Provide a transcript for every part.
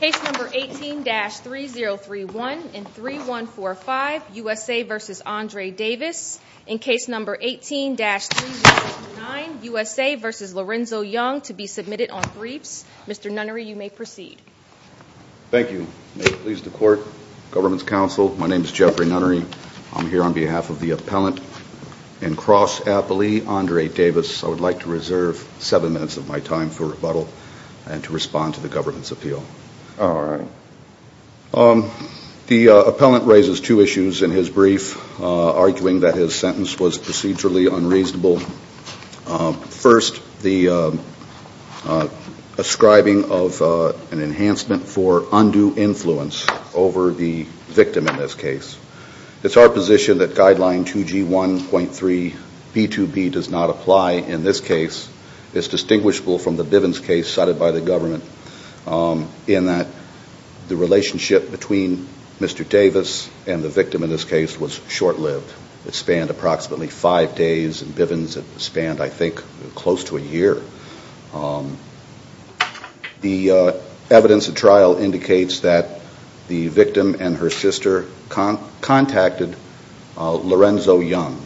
Case number 18-3031 and 3145 USA v. Aundre Davis In case number 18-3039 USA v. Lorenzo Young to be submitted on briefs Mr. Nunnery, you may proceed Thank you. May it please the court, government's counsel, my name is Jeffrey Nunnery I'm here on behalf of the appellant in Cross-Appley, Aundre Davis I would like to reserve seven minutes of my time for rebuttal and to respond to the government's appeal Alright The appellant raises two issues in his brief, arguing that his sentence was procedurally unreasonable First, the ascribing of an enhancement for undue influence over the victim in this case It's our position that guideline 2G1.3B2B does not apply in this case It's distinguishable from the Bivens case cited by the government in that the relationship between Mr. Davis and the victim in this case was short-lived It spanned approximately five days and Bivens it spanned, I think, close to a year The evidence of trial indicates that the victim and her sister contacted Lorenzo Young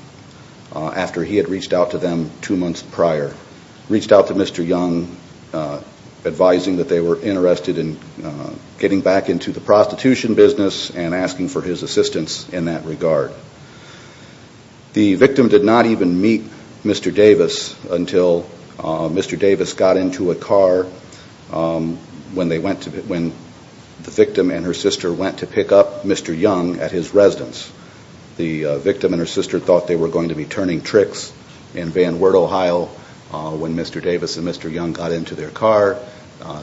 after he had reached out to them two months prior Reached out to Mr. Young, advising that they were interested in getting back into the prostitution business and asking for his assistance in that regard The victim did not even meet Mr. Davis until Mr. Davis got into a car when the victim and her sister went to pick up Mr. Young at his residence The victim and her sister thought they were going to be turning tricks in Van Wert, Ohio When Mr. Davis and Mr. Young got into their car,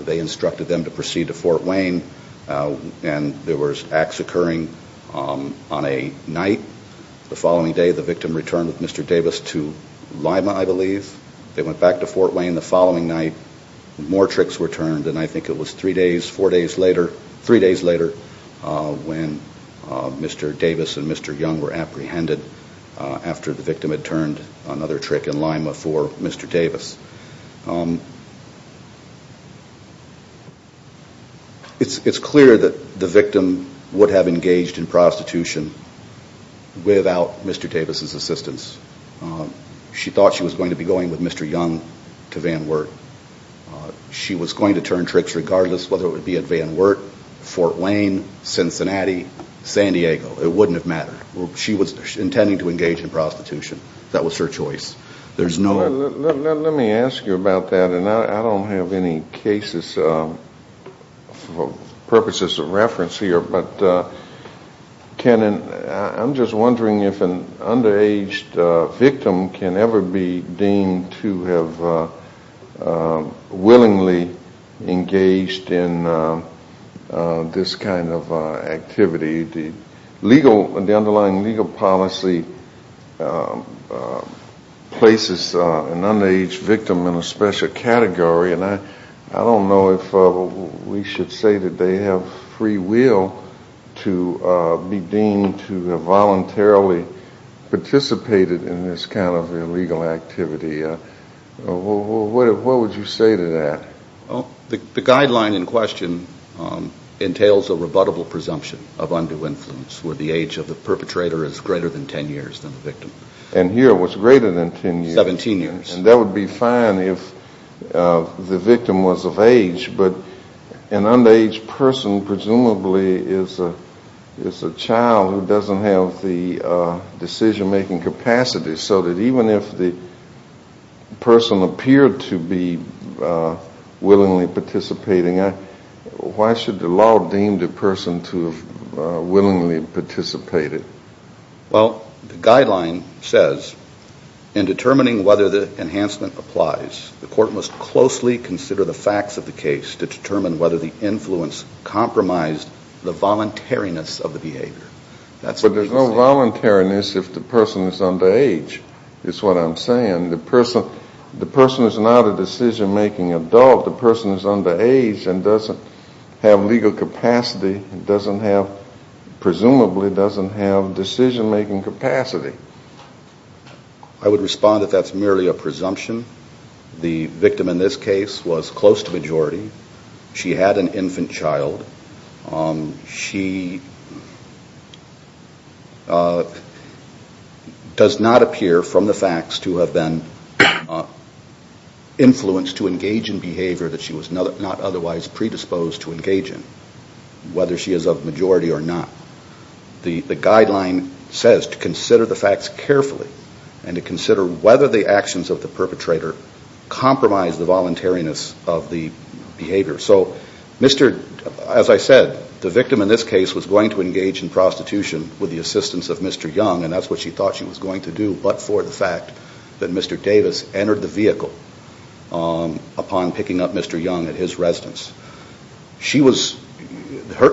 they instructed them to proceed to Fort Wayne There were acts occurring on a night The following day, the victim returned with Mr. Davis to Lima, I believe They went back to Fort Wayne the following night More tricks were turned, and I think it was three days later when Mr. Davis and Mr. Young were apprehended after the victim had turned another trick in Lima for Mr. Davis It's clear that the victim would have engaged in prostitution without Mr. Davis' assistance She thought she was going to be going with Mr. Young to Van Wert She was going to turn tricks regardless whether it would be at Van Wert, Fort Wayne, Cincinnati, San Diego It wouldn't have mattered She was intending to engage in prostitution That was her choice Let me ask you about that I don't have any cases for purposes of reference here I'm just wondering if an underage victim can ever be deemed to have willingly engaged in this kind of activity The underlying legal policy places an underage victim in a special category I don't know if we should say that they have free will to be deemed to have voluntarily participated in this kind of illegal activity What would you say to that? The guideline in question entails a rebuttable presumption of undue influence where the age of the perpetrator is greater than 10 years than the victim And here it was greater than 10 years 17 years That would be fine if the victim was of age but an underage person presumably is a child who doesn't have the decision-making capacity so that even if the person appeared to be willingly participating why should the law deem the person to have willingly participated? Well, the guideline says in determining whether the enhancement applies the court must closely consider the facts of the case to determine whether the influence compromised the voluntariness of the behavior But there's no voluntariness if the person is underage is what I'm saying The person is not a decision-making adult The person is underage and doesn't have legal capacity and presumably doesn't have decision-making capacity I would respond that that's merely a presumption The victim in this case was close to majority She had an infant child She does not appear from the facts to have been influenced to engage in behavior that she was not otherwise predisposed to engage in whether she is of majority or not The guideline says to consider the facts carefully and to consider whether the actions of the perpetrator compromise the voluntariness of the behavior As I said, the victim in this case was going to engage in prostitution with the assistance of Mr. Young and that's what she thought she was going to do but for the fact that Mr. Davis entered the vehicle upon picking up Mr. Young at his residence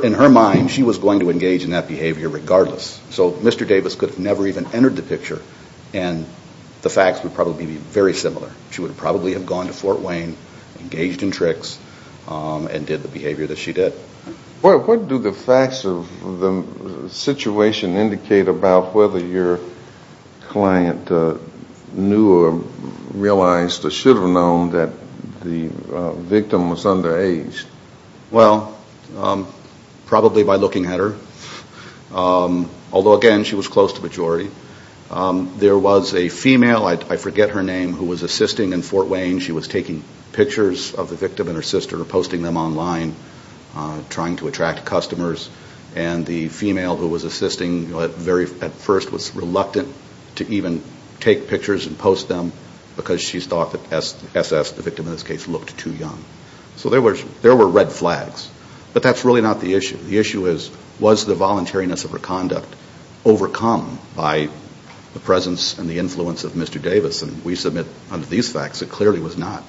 In her mind, she was going to engage in that behavior regardless So Mr. Davis could have never even entered the picture and the facts would probably be very similar She would probably have gone to Fort Wayne, engaged in tricks and did the behavior that she did What do the facts of the situation indicate about whether your client knew or realized or should have known that the victim was underage? Well, probably by looking at her Although again, she was close to majority There was a female, I forget her name, who was assisting in Fort Wayne She was taking pictures of the victim and her sister posting them online, trying to attract customers And the female who was assisting at first was reluctant to even take pictures and post them because she thought that SS, the victim in this case, looked too young So there were red flags But that's really not the issue The issue is, was the voluntariness of her conduct overcome by the presence and the influence of Mr. Davis? And we submit under these facts, it clearly was not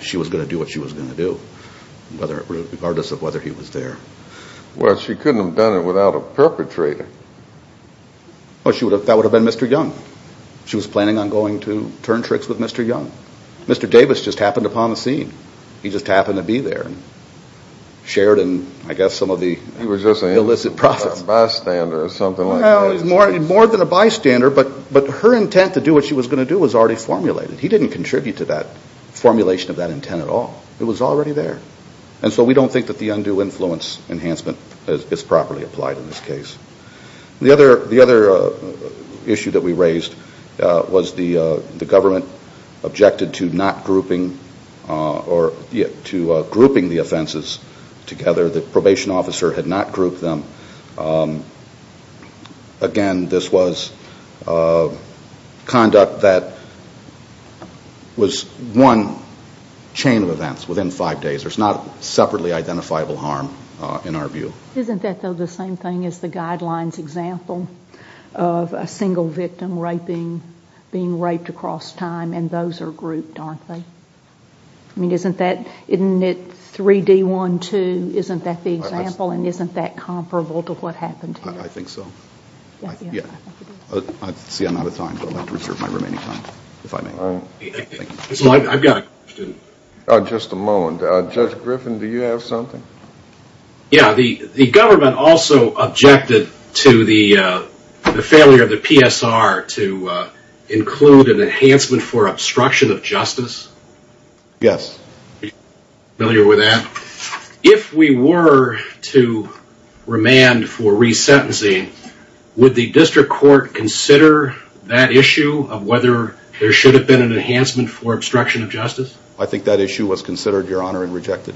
She was going to do what she was going to do regardless of whether he was there Well, she couldn't have done it without a perpetrator That would have been Mr. Young She was planning on going to turn tricks with Mr. Young Mr. Davis just happened upon the scene He just happened to be there Shared in, I guess, some of the illicit profits He was just a bystander or something like that More than a bystander But her intent to do what she was going to do was already formulated He didn't contribute to that formulation of that intent at all It was already there And so we don't think that the undue influence enhancement is properly applied in this case The other issue that we raised was the government objected to not grouping to grouping the offenses together The probation officer had not grouped them Again, this was conduct that was one chain of events within five days There's not separately identifiable harm in our view Isn't that, though, the same thing as the guidelines example of a single victim being raped across time and those are grouped, aren't they? I mean, isn't that 3D12, isn't that the example and isn't that comparable to what happened here? I think so See, I'm out of time I'd like to reserve my remaining time I've got a question Just a moment Judge Griffin, do you have something? Yeah, the government also objected to the failure of the PSR to include an enhancement for obstruction of justice Yes Are you familiar with that? If we were to remand for resentencing would the district court consider that issue of whether there should have been an enhancement for obstruction of justice? I think that issue was considered, Your Honor, and rejected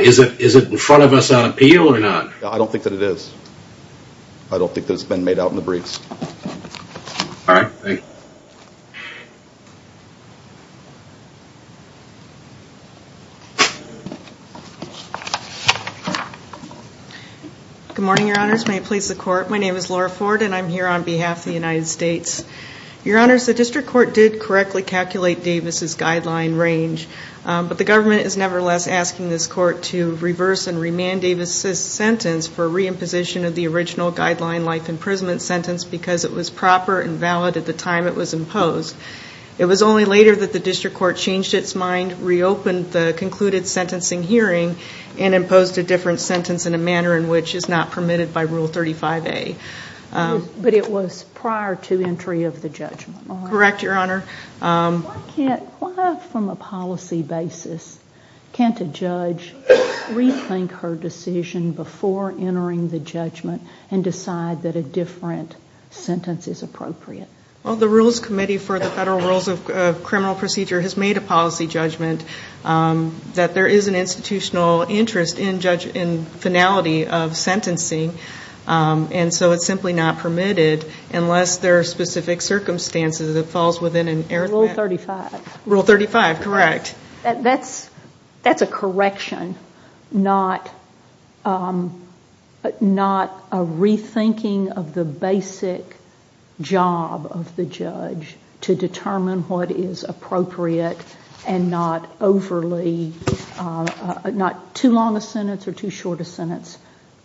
Is it in front of us on appeal or not? I don't think that it is I don't think that it's been made out in the briefs All right, thank you Good morning, Your Honors May it please the Court My name is Laura Ford and I'm here on behalf of the United States Your Honors, the district court did correctly calculate Davis' guideline range But the government is nevertheless asking this court to reverse and remand Davis' sentence for reimposition of the original guideline life imprisonment sentence because it was proper and valid at the time it was imposed It was only later that the district court changed its mind reopened the concluded sentencing hearing and imposed a different sentence in a manner in which is not permitted by Rule 35A But it was prior to entry of the judgment Correct, Your Honor Why from a policy basis can't a judge rethink her decision before entering the judgment and decide that a different sentence is appropriate? Well, the Rules Committee for the Federal Rules of Criminal Procedure has made a policy judgment that there is an institutional interest in finality of sentencing and so it's simply not permitted unless there are specific circumstances Rule 35 Rule 35, correct That's a correction, not a rethinking of the basic job of the judge to determine what is appropriate and not overly not too long a sentence or too short a sentence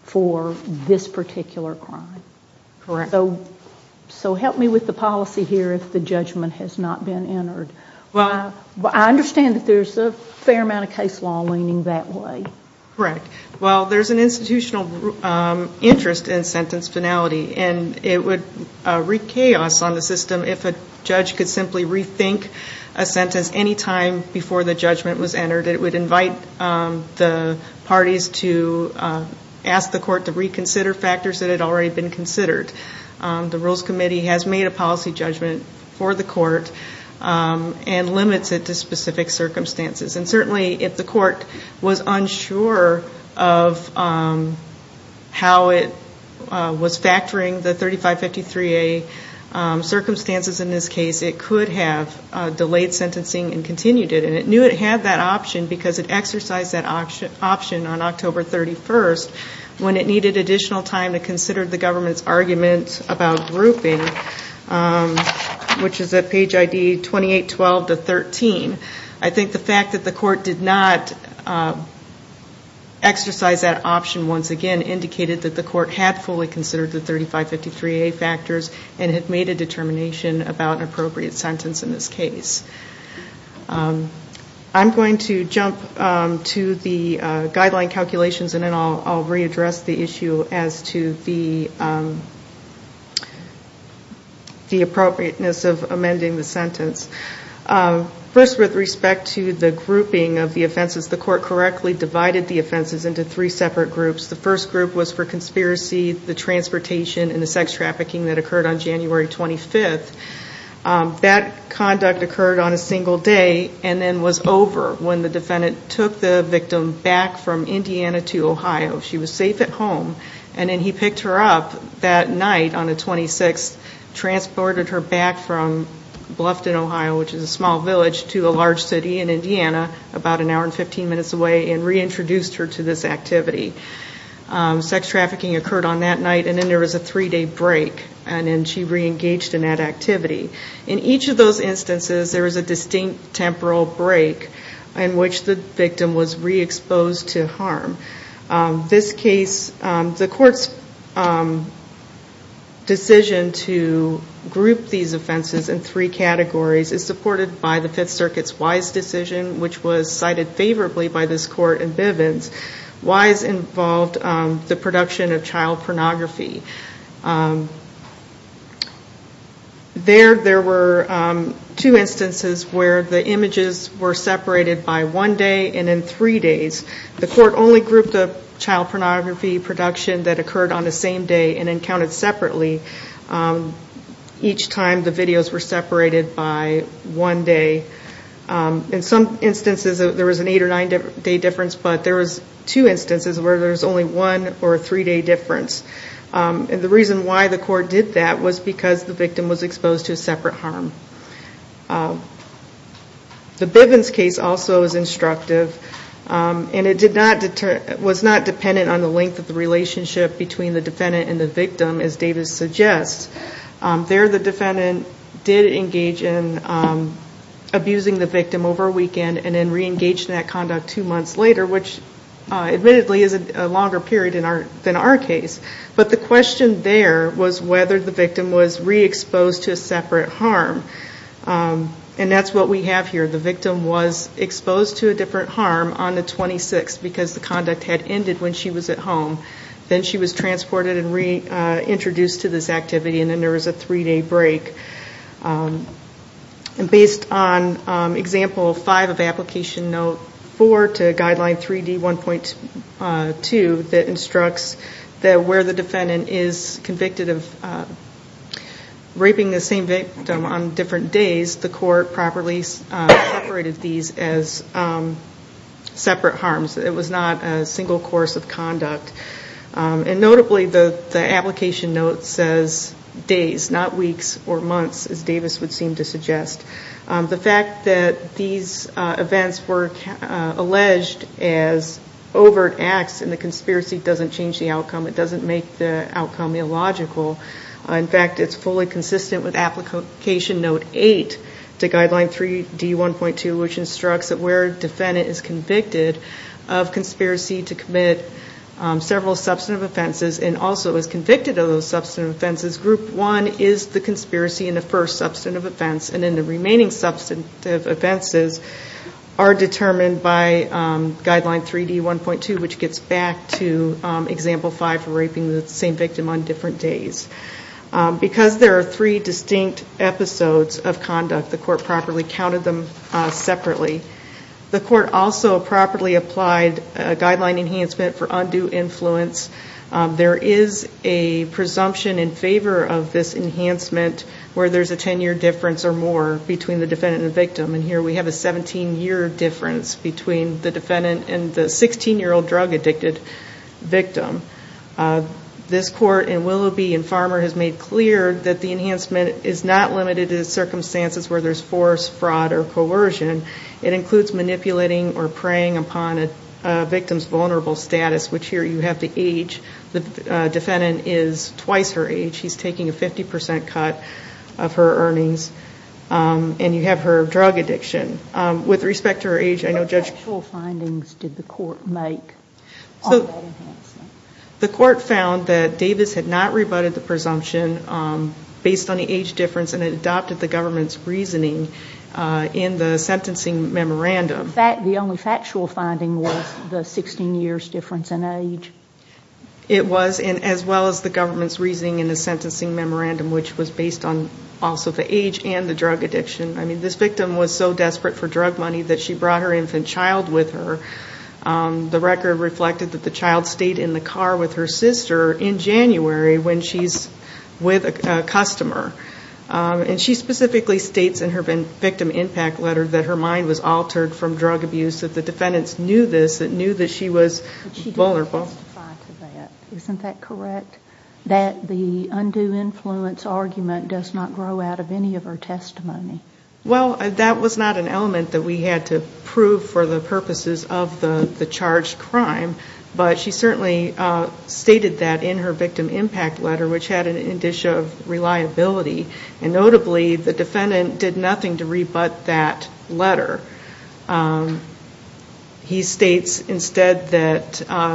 for this particular crime Correct So help me with the policy here if the judgment has not been entered I understand that there's a fair amount of case law leaning that way Correct Well, there's an institutional interest in sentence finality and it would wreak chaos on the system if a judge could simply rethink a sentence any time before the judgment was entered It would invite the parties to ask the court to reconsider factors that had already been considered The Rules Committee has made a policy judgment for the court and limits it to specific circumstances and certainly if the court was unsure of how it was factoring the 3553A circumstances in this case it could have delayed sentencing and continued it and it knew it had that option because it exercised that option on October 31st when it needed additional time to consider the government's argument about grouping which is at page ID 2812-13 I think the fact that the court did not exercise that option once again indicated that the court had fully considered the 3553A factors and had made a determination about an appropriate sentence in this case I'm going to jump to the guideline calculations and then I'll readdress the issue as to the appropriateness of amending the sentence First, with respect to the grouping of the offenses the court correctly divided the offenses into three separate groups The first group was for conspiracy, the transportation, and the sex trafficking that occurred on January 25th That conduct occurred on a single day and then was over when the defendant took the victim back from Indiana to Ohio She was safe at home and then he picked her up that night on the 26th transported her back from Bluffton, Ohio which is a small village to a large city in Indiana about an hour and 15 minutes away and reintroduced her to this activity Sex trafficking occurred on that night and then there was a three day break and then she reengaged in that activity In each of those instances there was a distinct temporal break in which the victim was re-exposed to harm This case, the court's decision to group these offenses in three categories is supported by the Fifth Circuit's Wise decision which was cited favorably by this court in Bivens Wise involved the production of child pornography There, there were two instances where the images were separated by one day and then three days The court only grouped the child pornography production that occurred on the same day and then counted separately each time the videos were separated by one day In some instances there was an eight or nine day difference but there was two instances where there was only one or a three day difference and the reason why the court did that was because the victim was exposed to a separate harm The Bivens case also is instructive and it was not dependent on the length of the relationship between the defendant and the victim as Davis suggests There the defendant did engage in abusing the victim over a weekend and then reengaged in that conduct two months later which admittedly is a longer period than our case but the question there was whether the victim was re-exposed to a separate harm and that's what we have here The victim was exposed to a different harm on the 26th because the conduct had ended when she was at home Then she was transported and reintroduced to this activity and then there was a three day break Based on example 5 of application note 4 to guideline 3D1.2 that instructs that where the defendant is convicted of raping the same victim on different days the court properly separated these as separate harms It was not a single course of conduct And notably the application note says days, not weeks or months as Davis would seem to suggest The fact that these events were alleged as overt acts and the conspiracy doesn't change the outcome it doesn't make the outcome illogical In fact it's fully consistent with application note 8 to guideline 3D1.2 which instructs that where the defendant is convicted of conspiracy to commit several substantive offenses and also is convicted of those substantive offenses group 1 is the conspiracy in the first substantive offense and then the remaining substantive offenses are determined by guideline 3D1.2 which gets back to example 5 for raping the same victim on different days Because there are three distinct episodes of conduct the court properly counted them separately The court also properly applied a guideline enhancement for undue influence There is a presumption in favor of this enhancement where there is a 10 year difference or more between the defendant and victim and here we have a 17 year difference between the defendant and the 16 year old drug addicted victim This court in Willoughby and Farmer has made clear that the enhancement is not limited to circumstances where there is force, fraud or coercion It includes manipulating or preying upon a victim's vulnerable status which here you have the age, the defendant is twice her age she's taking a 50% cut of her earnings and you have her drug addiction With respect to her age, I know Judge... What actual findings did the court make on that enhancement? The court found that Davis had not rebutted the presumption based on the age difference and it adopted the government's reasoning in the sentencing memorandum The only factual finding was the 16 years difference in age? It was, as well as the government's reasoning in the sentencing memorandum which was based on also the age and the drug addiction This victim was so desperate for drug money that she brought her infant child with her The record reflected that the child stayed in the car with her sister in January when she's with a customer And she specifically states in her victim impact letter that her mind was altered from drug abuse that the defendants knew this, that she was vulnerable But she didn't testify to that, isn't that correct? That the undue influence argument does not grow out of any of her testimony? Well, that was not an element that we had to prove for the purposes of the charged crime But she certainly stated that in her victim impact letter which had an indicia of reliability and notably the defendant did nothing to rebut that letter He states instead that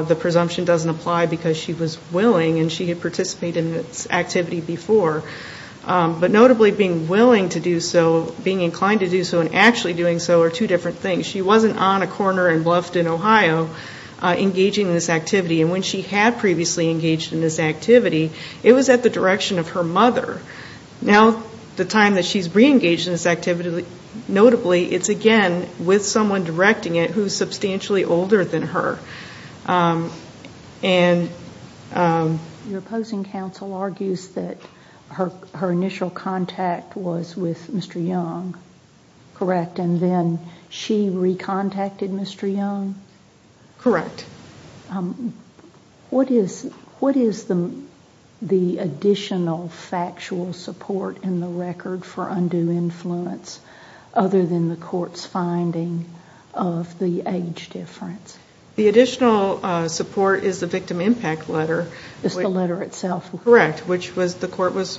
the presumption doesn't apply because she was willing and she had participated in this activity before But notably being willing to do so, being inclined to do so and actually doing so are two different things She wasn't on a corner in Bluffton, Ohio engaging in this activity And when she had previously engaged in this activity it was at the direction of her mother Now the time that she's re-engaged in this activity notably it's again with someone directing it who's substantially older than her Your opposing counsel argues that her initial contact was with Mr. Young, correct? And then she re-contacted Mr. Young? Correct What is the additional factual support in the record for undue influence other than the court's finding of the age difference? The additional support is the victim impact letter It's the letter itself? Correct, which the court was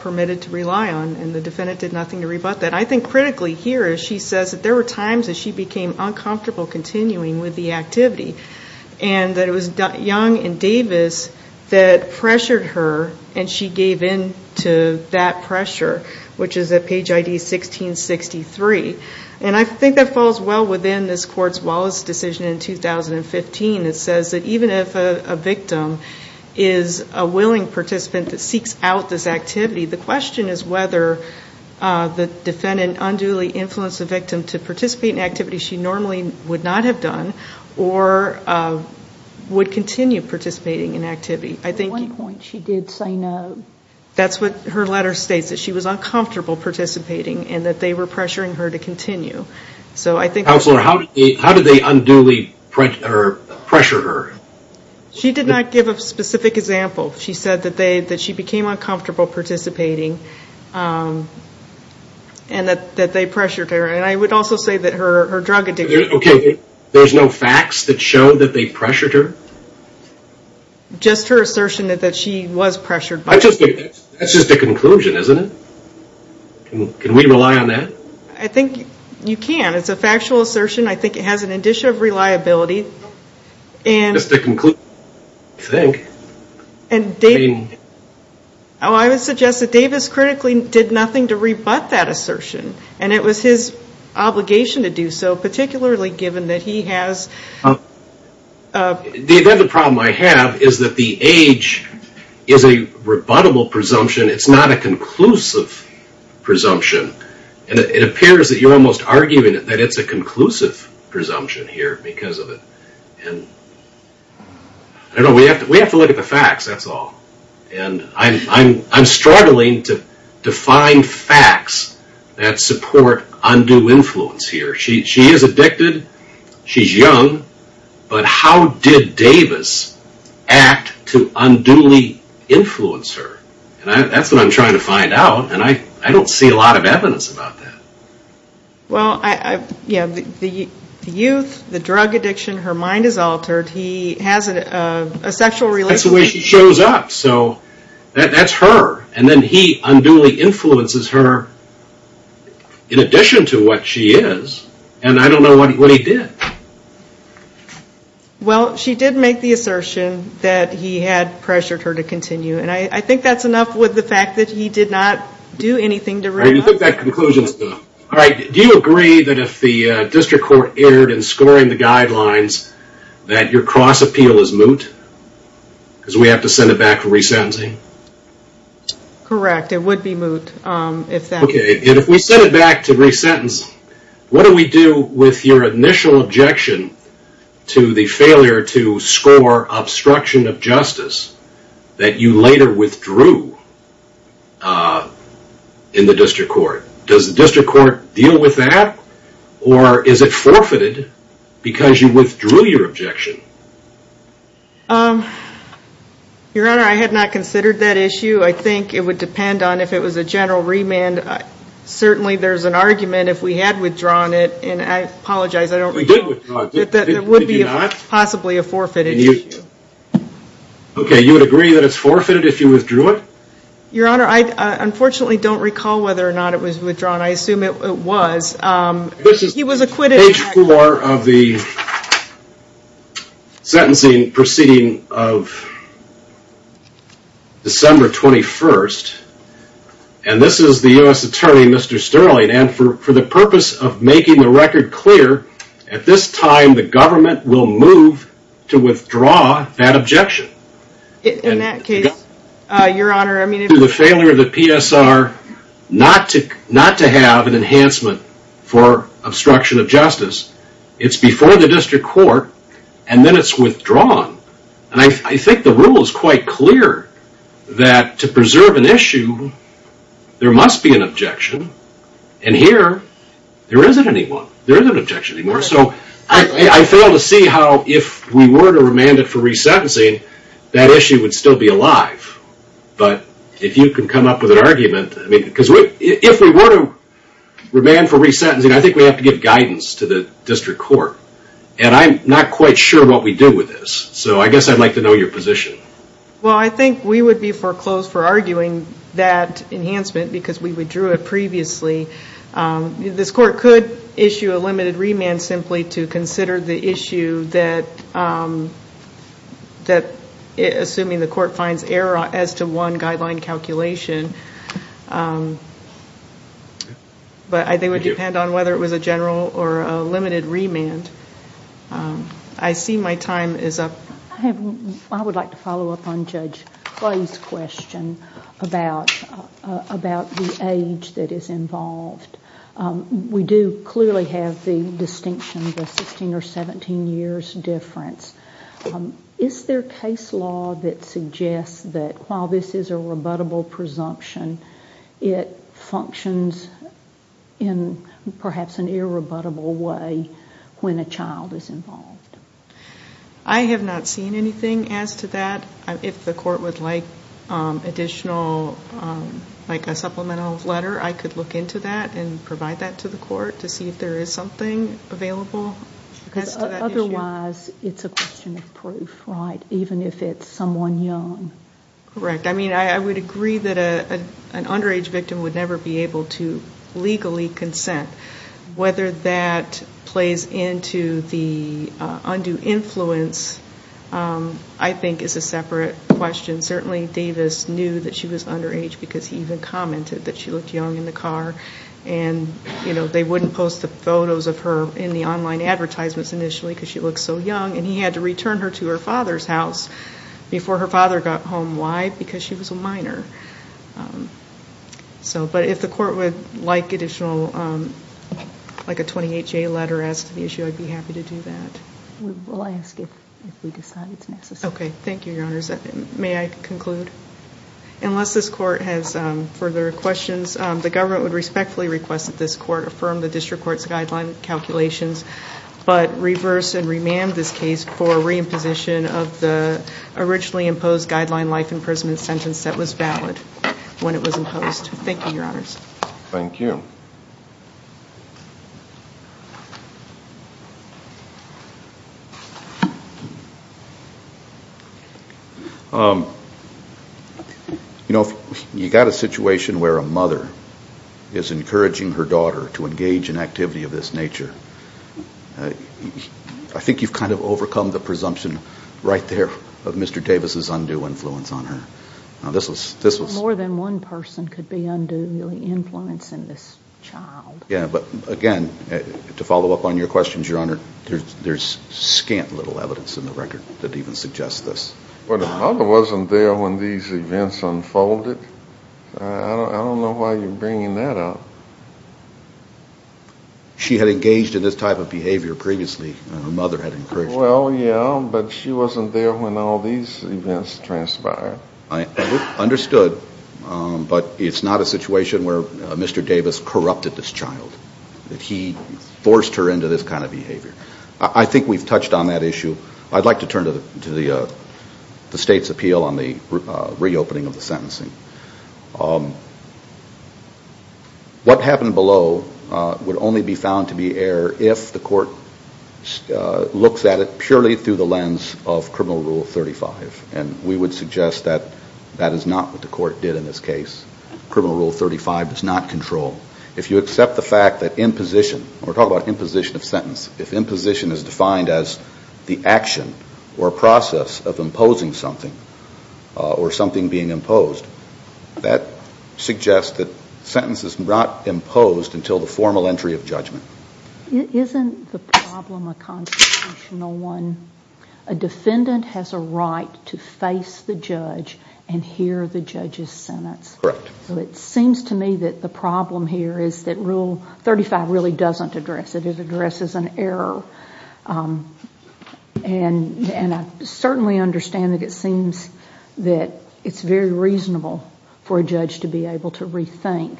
permitted to rely on and the defendant did nothing to rebut that I think critically here she says that there were times that she became uncomfortable continuing with the activity and that it was Young and Davis that pressured her and she gave in to that pressure which is at page ID 1663 And I think that falls well within this court's Wallace decision in 2015 It says that even if a victim is a willing participant that seeks out this activity the question is whether the defendant unduly influenced the victim to participate in activities she normally would not have done or would continue participating in activity At one point she did say no That's what her letter states, that she was uncomfortable participating and that they were pressuring her to continue Counselor, how did they unduly pressure her? She did not give a specific example She said that she became uncomfortable participating and that they pressured her and I would also say that her drug addiction There's no facts that show that they pressured her? Just her assertion that she was pressured That's just a conclusion, isn't it? Can we rely on that? I think you can, it's a factual assertion I think it has an addition of reliability Just a conclusion, I think I would suggest that Davis critically did nothing to rebut that assertion and it was his obligation to do so particularly given that he has The other problem I have is that the age is a rebuttable presumption It's not a conclusive presumption It appears that you're almost arguing that it's a conclusive presumption here We have to look at the facts, that's all I'm struggling to find facts that support undue influence here She is addicted, she's young but how did Davis act to unduly influence her? That's what I'm trying to find out and I don't see a lot of evidence about that The youth, the drug addiction, her mind is altered He has a sexual relationship That's the way she shows up, so that's her and then he unduly influences her in addition to what she is and I don't know what he did Well, she did make the assertion that he had pressured her to continue and I think that's enough with the fact that he did not do anything to rebut Do you agree that if the district court erred in scoring the guidelines that your cross-appeal is moot? because we have to send it back to resentencing? Correct, it would be moot If we send it back to resentencing what do we do with your initial objection to the failure to score obstruction of justice that you later withdrew in the district court Does the district court deal with that? or is it forfeited because you withdrew your objection? Your honor, I had not considered that issue I think it would depend on if it was a general remand certainly there's an argument if we had withdrawn it and I apologize, I don't know It would be possibly a forfeited issue Okay, you would agree that it's forfeited if you withdrew it? Your honor, I unfortunately don't recall whether or not it was withdrawn I assume it was He was acquitted Page 4 of the sentencing proceeding of December 21st and this is the U.S. attorney, Mr. Sterling and for the purpose of making the record clear at this time the government will move to withdraw that objection In that case, your honor The failure of the PSR not to have an enhancement for obstruction of justice it's before the district court and then it's withdrawn and I think the rule is quite clear that to preserve an issue, there must be an objection and here, there isn't any one there isn't an objection anymore I fail to see how if we were to remand it for resentencing that issue would still be alive but if you can come up with an argument if we were to remand for resentencing I think we have to give guidance to the district court and I'm not quite sure what we do with this so I guess I'd like to know your position Well, I think we would be foreclosed for arguing that enhancement because we withdrew it previously this court could issue a limited remand simply to consider the issue that assuming the court finds error as to one guideline calculation but I think it would depend on whether it was a general or a limited remand I see my time is up I would like to follow up on Judge Clay's question about the age that is involved we do clearly have the distinction the 16 or 17 years difference is there case law that suggests that while this is a rebuttable presumption it functions in perhaps an irrebuttable way when a child is involved I have not seen anything as to that if the court would like additional like a supplemental letter I could look into that and provide that to the court to see if there is something available otherwise it's a question of proof even if it's someone young I would agree that an underage victim would never be able to legally consent whether that plays into the undue influence I think is a separate question Davis knew that she was underage because he commented that she looked young in the car they wouldn't post the photos of her in the online advertisements and he had to return her to her father's house before her father got home because she was a minor if the court would like additional like a 28-J letter I would be happy to do that thank you unless this court has further questions the government would respectfully request that this court affirm the district court's guidelines but reverse and remand this case for re-imposition of the originally imposed guideline life imprisonment sentence that was valid when it was imposed you got a situation where a mother is encouraging her daughter to engage in activity of this nature I think you've kind of overcome the presumption right there of Mr. Davis' undue influence on her more than one person could be undue influence in this child to follow up on your questions there's scant little evidence in the record that even suggests this well the mother wasn't there when these events unfolded I don't know why you're bringing that up she had engaged in this type of behavior previously and her mother had encouraged her well yeah but she wasn't there when all these events transpired I understood but it's not a situation where Mr. Davis corrupted this child that he forced her into this kind of behavior I think we've touched on that issue I'd like to turn to the state's appeal on the reopening of the sentencing what happened below would only be found to be error if the court looks at it purely through the lens of criminal rule 35 and we would suggest that that is not what the court did in this case criminal rule 35 does not control if you accept the fact that imposition we're talking about imposition of sentence if imposition is defined as the action or process of imposing something or something being imposed that suggests that sentence is not imposed until the formal entry of judgment isn't the problem a constitutional one a defendant has a right to face the judge and hear the judge's sentence so it seems to me that the problem here is that rule 35 really doesn't address it it addresses an error and I certainly understand that it seems that it's very reasonable for a judge to be able to rethink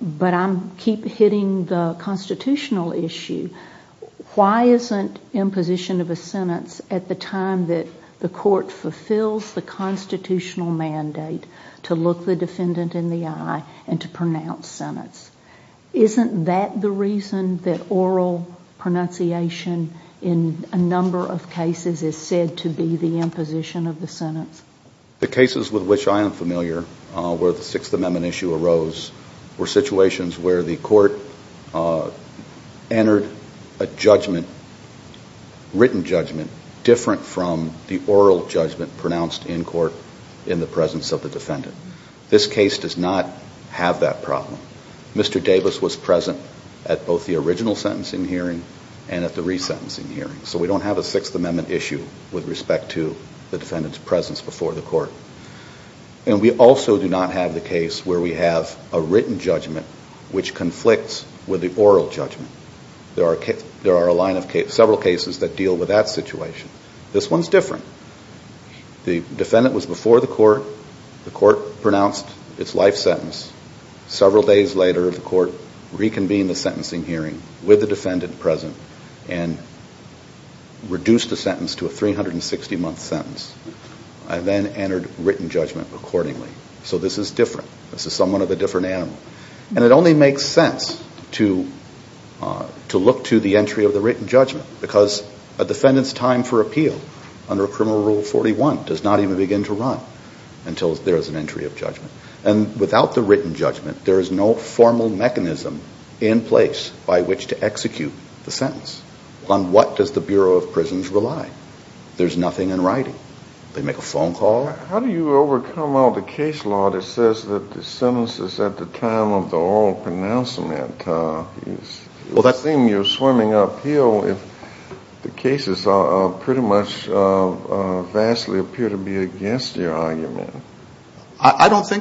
but I keep hitting the constitutional issue why isn't imposition of a sentence at the time that the court fulfills the constitutional mandate to look the defendant in the eye and to pronounce sentence isn't that the reason that oral pronunciation in a number of cases is said to be the imposition of the sentence the cases with which I am familiar where the sixth amendment issue arose were situations where the court entered a judgment written judgment different from the oral judgment pronounced in court in the presence of the defendant this case does not have that problem Mr. Davis was present at both the original sentencing hearing and at the resentencing hearing so we don't have a sixth amendment issue with respect to the defendant's presence before the court and we also do not have the case where we have a written judgment which conflicts with the oral judgment there are several cases that deal with that situation this one's different the defendant was before the court the court pronounced its life sentence several days later the court reconvened the sentencing hearing with the defendant present and reduced the sentence to a 360 month sentence I then entered written judgment accordingly so this is different, this is somewhat of a different animal and it only makes sense to to look to the entry of the written judgment because a defendant's time for appeal under criminal rule 41 does not even begin to run until there is an entry of judgment and without the written judgment there is no formal mechanism in place by which to execute the sentence on what does the Bureau of Prisons rely? there's nothing in writing they make a phone call I don't think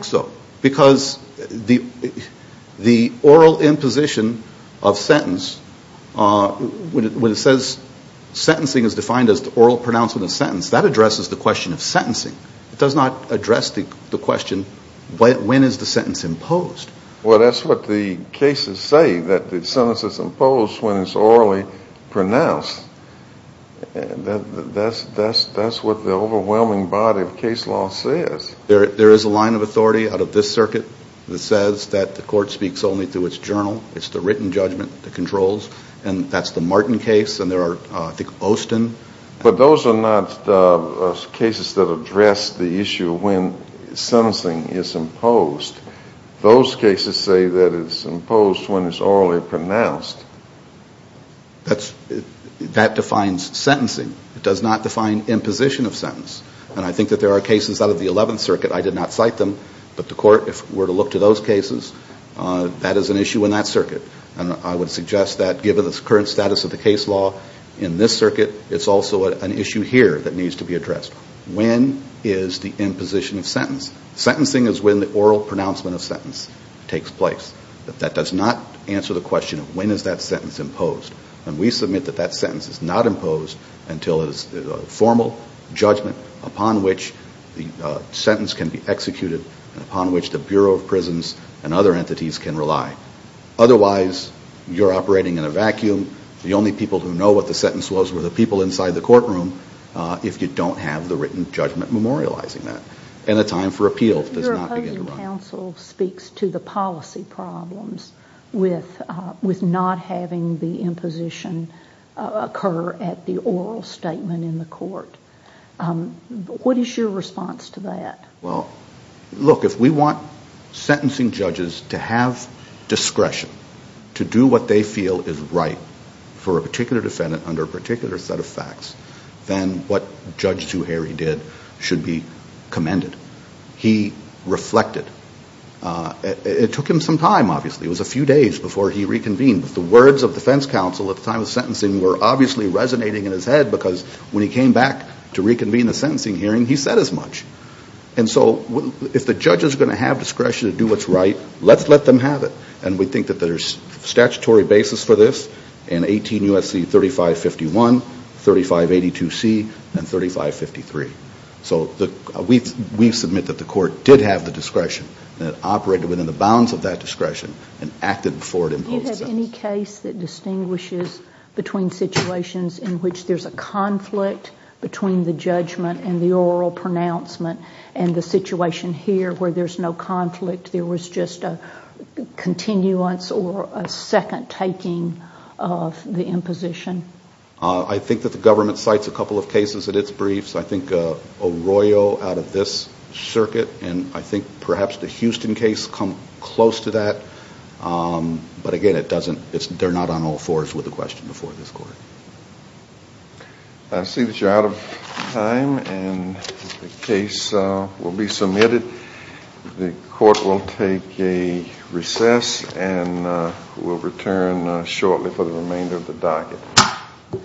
so because the oral imposition of sentence when it says sentencing is defined as the oral pronouncement of sentence that addresses the question of sentencing it does not address the question when is the sentence imposed? well that's what the cases say that the sentence is imposed when it's orally pronounced that's what the overwhelming body of case law says there is a line of authority out of this circuit that says that the court speaks only through its journal it's the written judgment that controls and that's the Martin case and there are, I think, Osten but those are not cases that address the issue when sentencing is imposed those cases say that it's imposed when it's orally pronounced that defines sentencing it does not define imposition of sentence and I think that there are cases out of the 11th circuit I did not cite them but the court, if we're to look to those cases that is an issue in that circuit and I would suggest that given the current status of the case law in this circuit, it's also an issue here that needs to be addressed when is the imposition of sentence? sentencing is when the oral pronouncement of sentence takes place that does not answer the question of when is that sentence imposed and we submit that that sentence is not imposed until it is a formal judgment upon which the sentence can be executed and upon which the Bureau of Prisons and other entities can rely otherwise, you're operating in a vacuum the only people who know what the sentence was were the people inside the courtroom if you don't have the written judgment memorializing that and the time for appeal does not begin to run Your opposing counsel speaks to the policy problems with not having the imposition occur at the oral statement in the court what is your response to that? Well, look, if we want sentencing judges to have discretion to do what they feel is right for a particular defendant under a particular set of facts then what Judge Zuhairi did should be commended he reflected it took him some time, obviously it was a few days before he reconvened but the words of defense counsel at the time of sentencing were obviously resonating in his head because when he came back to reconvene the sentencing hearing he said as much and so if the judge is going to have discretion to do what's right let's let them have it and we think that there's statutory basis for this in 18 U.S.C. 3551, 3582C, and 3553 so we submit that the court did have the discretion and it operated within the bounds of that discretion and acted before it imposed the sentence Do you have any case that distinguishes between situations in which there's a conflict between the judgment and the oral pronouncement and the situation here where there's no conflict there was just a continuance or a second taking of the imposition? I think that the government cites a couple of cases in its briefs, I think Arroyo out of this circuit and I think perhaps the Houston case come close to that but again they're not on all fours with the question before this court I see that you're out of time and the case will be submitted the court will take a recess and we'll return shortly for the remainder of the day